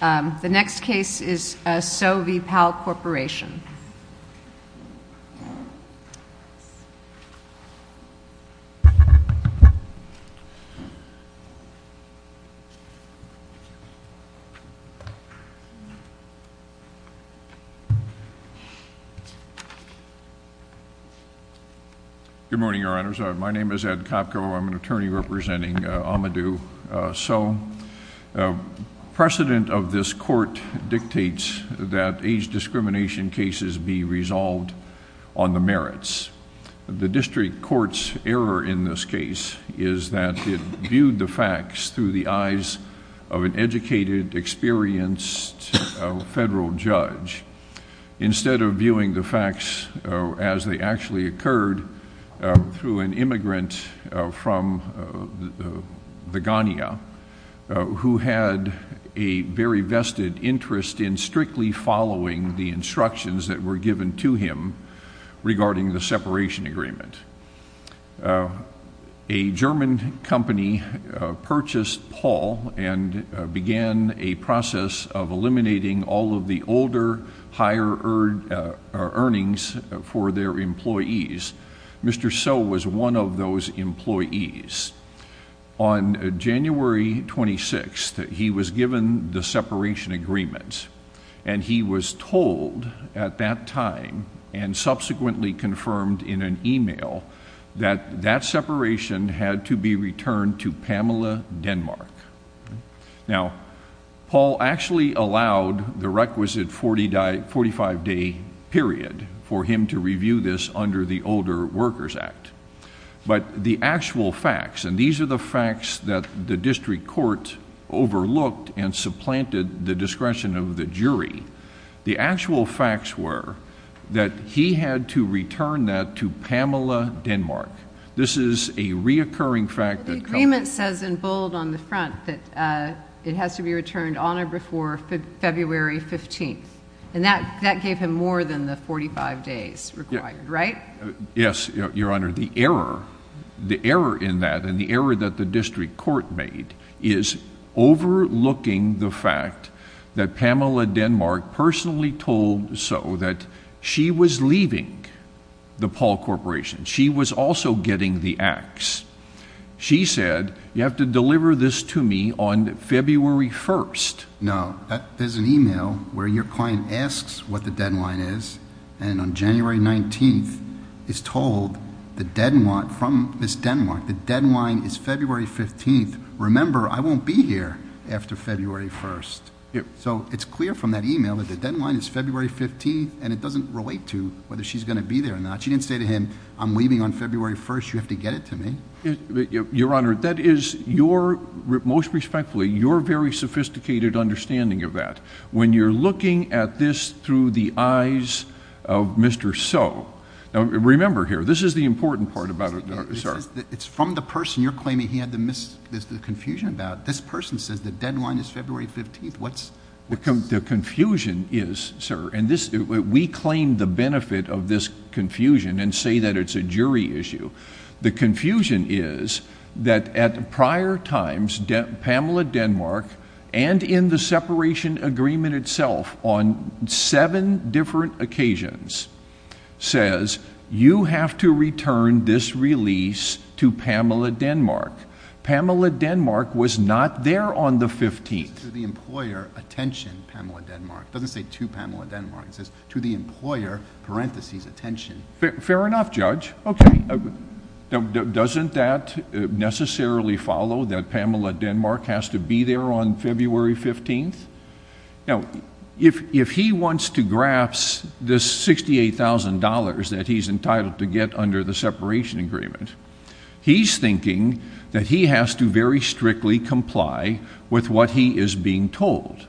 The next case is Sowe v. Pall Corporation. Good morning, Your Honors. My name is Ed Kopko. I'm an attorney representing Amadou Sowe. Precedent of this court dictates that age discrimination cases be resolved on the merits. The district court's error in this case is that it viewed the facts through the eyes of an educated, experienced federal judge instead of viewing the facts as they actually occurred through an immigrant from the who had a very vested interest in strictly following the instructions that were given to him regarding the separation agreement. A German company purchased Pall and began a process of eliminating all of the older, higher earnings for their employees. Mr. Sowe was one of those employees. On January 26, he was given the separation agreement and he was told at that time and subsequently confirmed in an email that that separation had to be returned to a five-day period for him to review this under the Older Workers Act. But the actual facts, and these are the facts that the district court overlooked and supplanted the discretion of the jury, the actual facts were that he had to return that to Pamela Denmark. This is a reoccurring fact. The agreement says in bold on the front that it has to be returned on or before February 15th and that gave him more than the 45 days required, right? Yes, Your Honor. The error, the error in that and the error that the district court made is overlooking the fact that Pamela Denmark personally told Sowe that she was leaving the Pall Corporation. She was also getting the axe. She said, you have to deliver this to me on February 1st. No, there's an email where your client asks what the deadline is and on January 19th is told the deadline from Ms. Denmark, the deadline is February 15th. Remember, I won't be here after February 1st. So it's clear from that email that the deadline is February 15th and it doesn't relate to whether she's going to be there or not. She didn't say to him, I'm leaving on February 1st, you have to get it to me. Your Honor, that is your most respectfully, your very sophisticated understanding of that. When you're looking at this through the eyes of Mr. Sowe, now remember here, this is the important part about it. It's from the person you're claiming he had the confusion about. This person says the deadline is February 15th. What's the confusion is, sir, and this we claim the benefit of this confusion and say that it's a jury issue. The confusion is that at prior times Pamela Denmark and in the separation agreement itself on seven different occasions says you have to return this release to Pamela Denmark. Pamela Denmark was not there on the 15th. To the employer, attention, Pamela Denmark. Doesn't say to the employer, parentheses, attention. Fair enough, Judge. Okay, doesn't that necessarily follow that Pamela Denmark has to be there on February 15th? Now, if he wants to grasp this $68,000 that he's entitled to get under the separation agreement, he's thinking that he has to very strictly comply with what he is being told.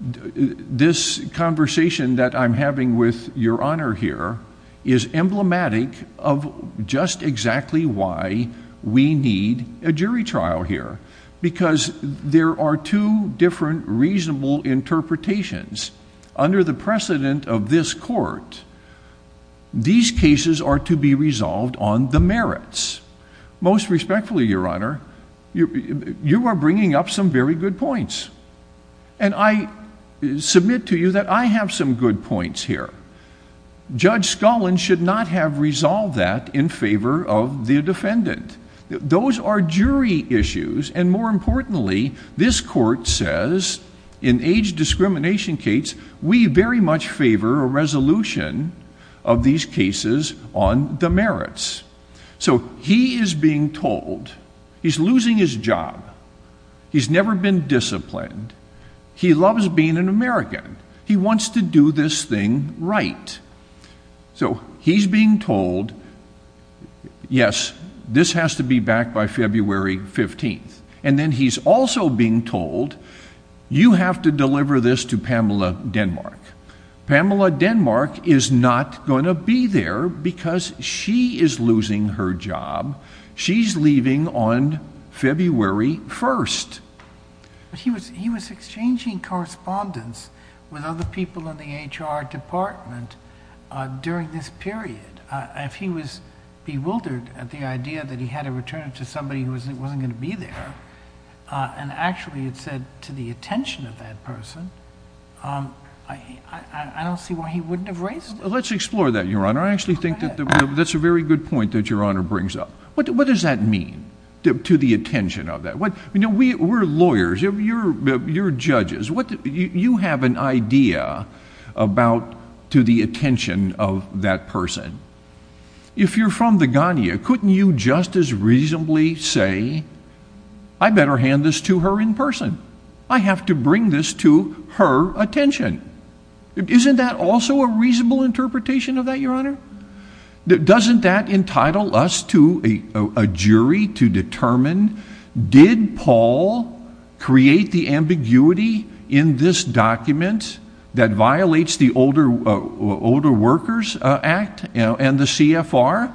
This conversation that I'm having with your honor here is emblematic of just exactly why we need a jury trial here, because there are two different reasonable interpretations. Under the precedent of this court, these cases are to be resolved on the merits. Most respectfully, your honor, you are bringing up some very good points, and I submit to you that I have some good points here. Judge Scullin should not have resolved that in favor of the defendant. Those are jury issues, and more importantly, this court says in age discrimination case, we very much favor a resolution of these cases on the He's never been disciplined. He loves being an American. He wants to do this thing right. So he's being told, yes, this has to be back by February 15th, and then he's also being told, you have to deliver this to Pamela Denmark. Pamela Denmark is not going to be there because she is losing her job. She's leaving on February 1st. He was exchanging correspondence with other people in the HR department during this period. If he was bewildered at the idea that he had to return it to somebody who wasn't going to be there, and actually had said to the attention of that person, I don't see why he wouldn't have raised it. Let's explore that, your honor. I actually think that that's a very good point that your honor brings up. What does that mean, to the attention of that? You know, we're lawyers. You're judges. You have an idea about to the attention of that person. If you're from the Ghana, couldn't you just as reasonably say, I better hand this to her in person. I have to bring this to her attention. Isn't that also a reasonable interpretation of that, your honor? Doesn't that entitle us to a jury to determine, did Paul create the ambiguity in this document that violates the Older Workers Act and the CFR?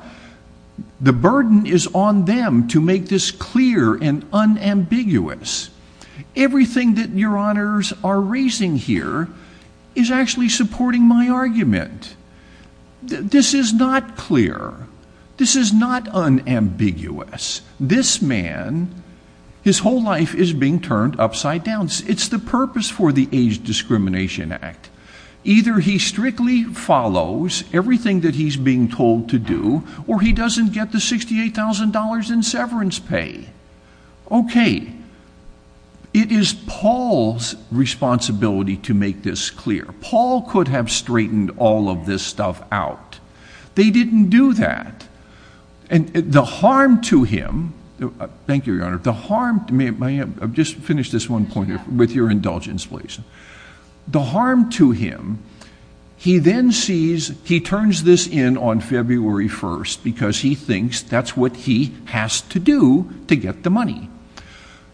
The burden is on them to make this clear and unambiguous. Everything that your honors are raising here is actually supporting my argument. This is not clear. This is not unambiguous. This man, his whole life is being turned upside down. It's the purpose for the Age Discrimination Act. Either he strictly follows everything that he's being told to do, or he doesn't get the $68,000 in severance pay. Okay, it is Paul's responsibility to make this clear. Paul could have straightened all of this stuff out. They didn't do that, and the harm to him, thank you your honor, the harm, may I just finish this one point with your indulgence please. The harm to him, he then sees, he turns this in on February 1st because he thinks that's what he has to do to get the money.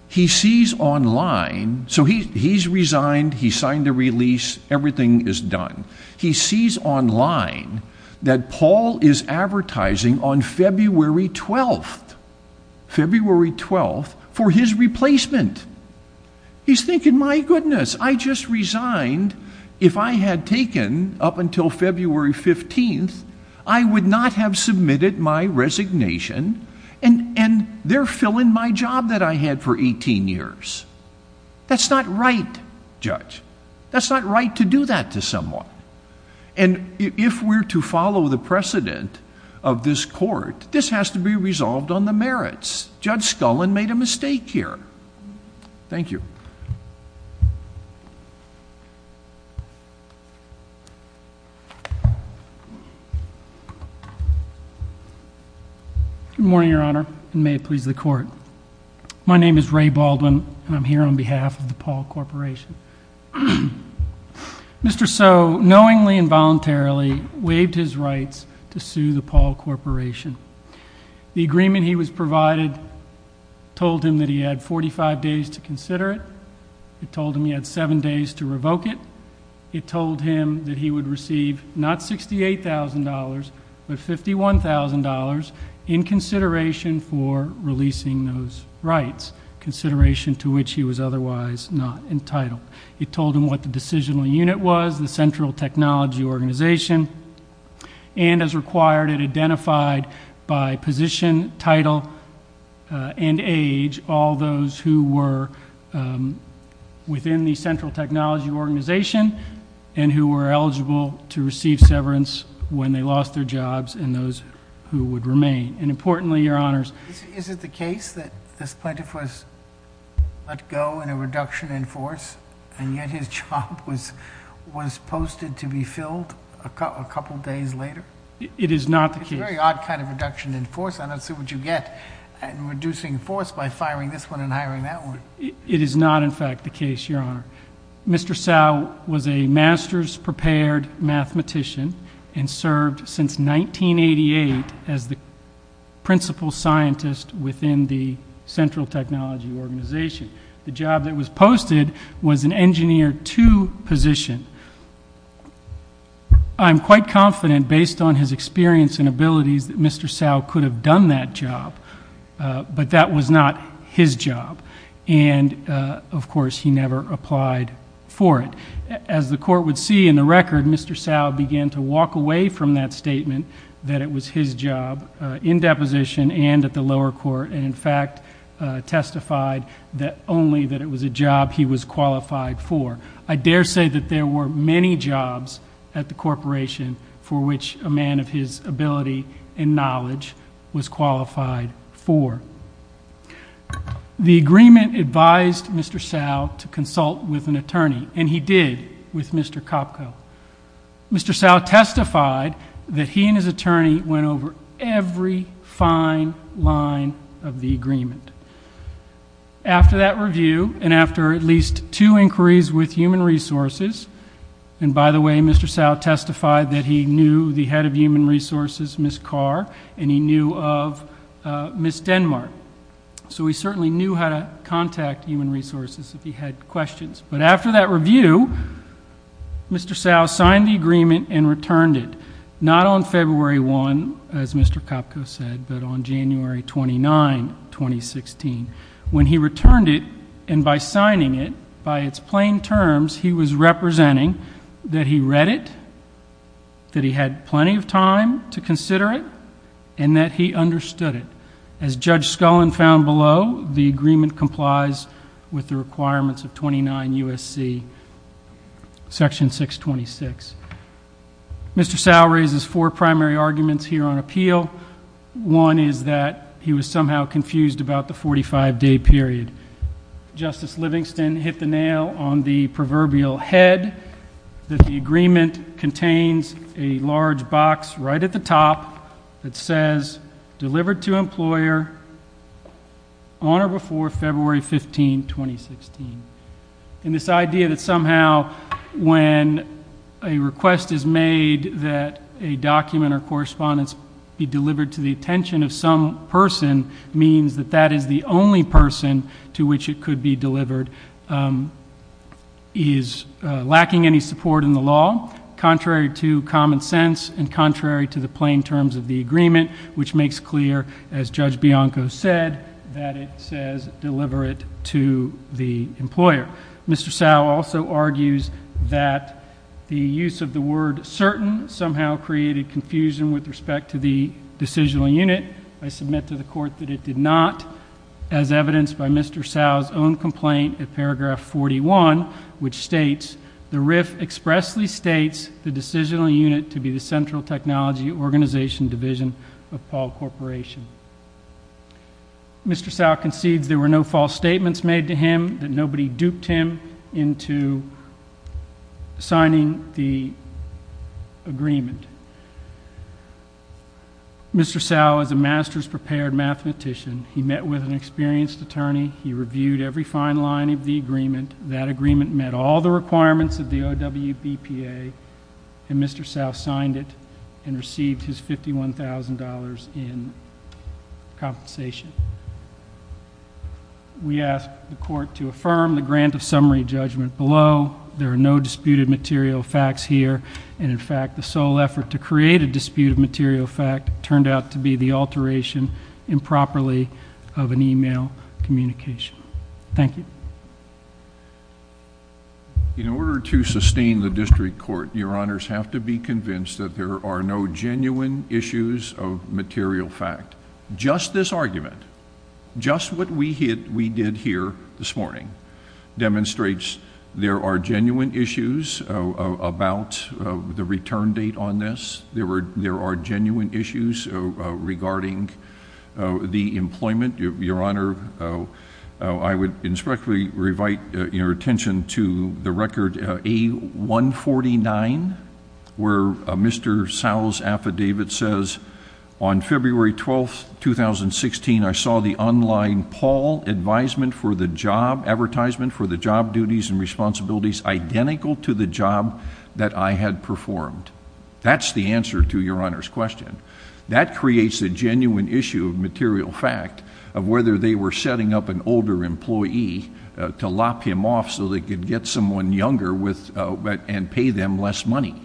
He sees online, so he's resigned, he signed the release, everything is done. He sees online that Paul is advertising on February 12th, February 12th, for his replacement. He's thinking, my goodness, I just resigned. If I had taken up until February 15th, I would not have submitted my resignation, and they're filling my job that I had for 18 years. That's not right, judge. That's not right to do that to someone, and if we're to follow the precedent of this court, this has to be resolved on the merits. Judge Scullin made a mistake here. Thank you. Good morning, your honor, and may it please the court. My name is Ray Baldwin, and I'm here on behalf of the Paul Corporation. Mr. So, knowingly and voluntarily, waived his rights to sue the Paul Corporation. The agreement he was provided told him that he had 45 days to consider it. It told him he had seven days to revoke it. It told him that he would receive not $68,000, but $51,000 in consideration for releasing those rights, consideration to which he was otherwise not entitled. It told him what the decisional unit was, the Central Technology Organization, and as required, it identified by position, title, and age, all those who were within the Central Technology Organization, and who were eligible to receive severance when they lost their jobs, and those who would remain, and importantly, your honors. Is it the case that this plaintiff was let go in a reduction in force, and yet his job was posted to be filled a couple days later? It is not the case. It's a very odd kind of reduction in force. I don't see what you get in reducing force by firing this one and hiring that one. It is not, in fact, the case, your honor. Mr. Sau was a master's prepared mathematician and served since 1988 as the principal scientist within the Central Technology Organization. The job that was posted was an engineer to position. I'm quite confident, based on his experience and abilities, that Mr. Sau could have done that job, but that was not his job, and of course, he never applied for it. As the court would see in the record, Mr. Sau began to walk away from that statement that it was his job in deposition and at the lower court, and in fact, testified only that it was a job he was qualified for. I dare say that there were many jobs at the corporation for which a man of his ability and knowledge was qualified for. The agreement advised Mr. Sau to consult with an attorney, and he did with Mr. Kopko. Mr. Sau testified that he and his attorney went over every fine line of the agreement. After that review and after at least two inquiries with human resources, and by the way, Mr. Sau testified that he knew the head of human resources, Ms. Carr, and he knew of Ms. Denmark, so he certainly knew how to contact human resources if he had questions, but after that review, Mr. Sau signed the agreement and returned it, not on February 1, as Mr. Kopko said, but on February 1. He was representing that he read it, that he had plenty of time to consider it, and that he understood it. As Judge Scullin found below, the agreement complies with the requirements of 29 U.S.C. Section 626. Mr. Sau raises four primary arguments here on appeal. One is that he was somehow confused about the 45-day period. Justice Livingston hit the nail on the proverbial head that the agreement contains a large box right at the top that says, delivered to employer on or before February 15, 2016. This idea that somehow when a request is made that a document or correspondence be delivered to the employer, that is the only person to which it could be delivered is lacking any support in the law, contrary to common sense and contrary to the plain terms of the agreement, which makes clear, as Judge Bianco said, that it says deliver it to the employer. Mr. Sau also argues that the use of the word certain somehow created confusion with respect to the decisional unit. I submit to the court that it did not, as evidenced by Mr. Sau's own complaint at paragraph 41, which states, the RIF expressly states the decisional unit to be the Central Technology Organization Division of Paul Corporation. Mr. Sau concedes there were no false statements made to him, that nobody duped him into signing the agreement. Mr. Sau is a master's prepared mathematician. He met with an experienced attorney. He reviewed every fine line of the agreement. That agreement met all the requirements of the OWBPA, and Mr. Sau signed it and received his $51,000 in compensation. We ask the court to affirm the grant of disputed material facts here, and in fact, the sole effort to create a disputed material fact turned out to be the alteration, improperly, of an email communication. Thank you. In order to sustain the district court, your honors have to be convinced that there are no genuine issues of material fact. Just this argument, just what we did here this morning, demonstrates there are genuine issues about the return date on this. There were, there are genuine issues regarding the employment. Your honor, I would respectfully revite your attention to the record A149, where Mr. Sau's affidavit says, on February 12, 2016, I saw the online Paul advisement for the job, advertisement for the job duties and responsibilities identical to the job that I had performed. That's the answer to your honor's question. That creates a genuine issue of material fact of whether they were setting up an older employee to lop him off so they could get someone younger and pay them less money.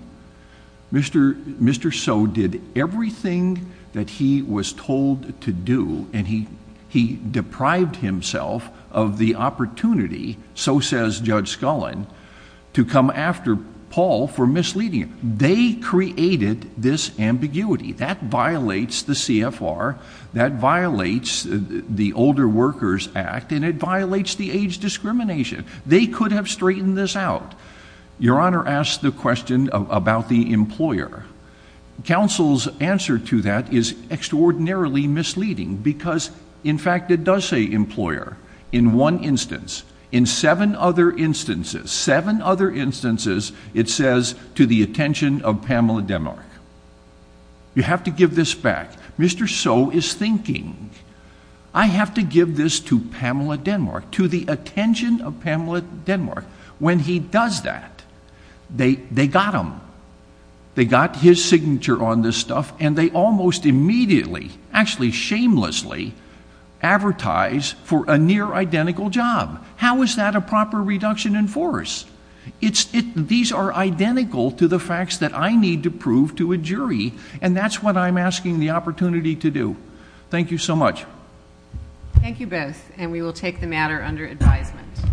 Mr. Sau did everything that he was told to do, and he deprived himself of the opportunity, so says Judge Scullin, to come after Paul for misleading him. They created this ambiguity. That violates the CFR, that violates the Older Workers Act, and it violates the age discrimination. They could have straightened this out. Your honor asked the question about the employer. Counsel's answer to that is extraordinarily misleading because, in fact, it does say employer in one other instances, seven other instances, it says to the attention of Pamela Denmark. You have to give this back. Mr. Sau is thinking, I have to give this to Pamela Denmark, to the attention of Pamela Denmark. When he does that, they got him. They got his signature on this stuff, and they almost immediately, actually shamelessly, advertise for a near-identical job. How is that a proper reduction in force? These are identical to the facts that I need to prove to a jury, and that's what I'm asking the opportunity to do. Thank you so much. Thank you both, and we will take the matter under advisement.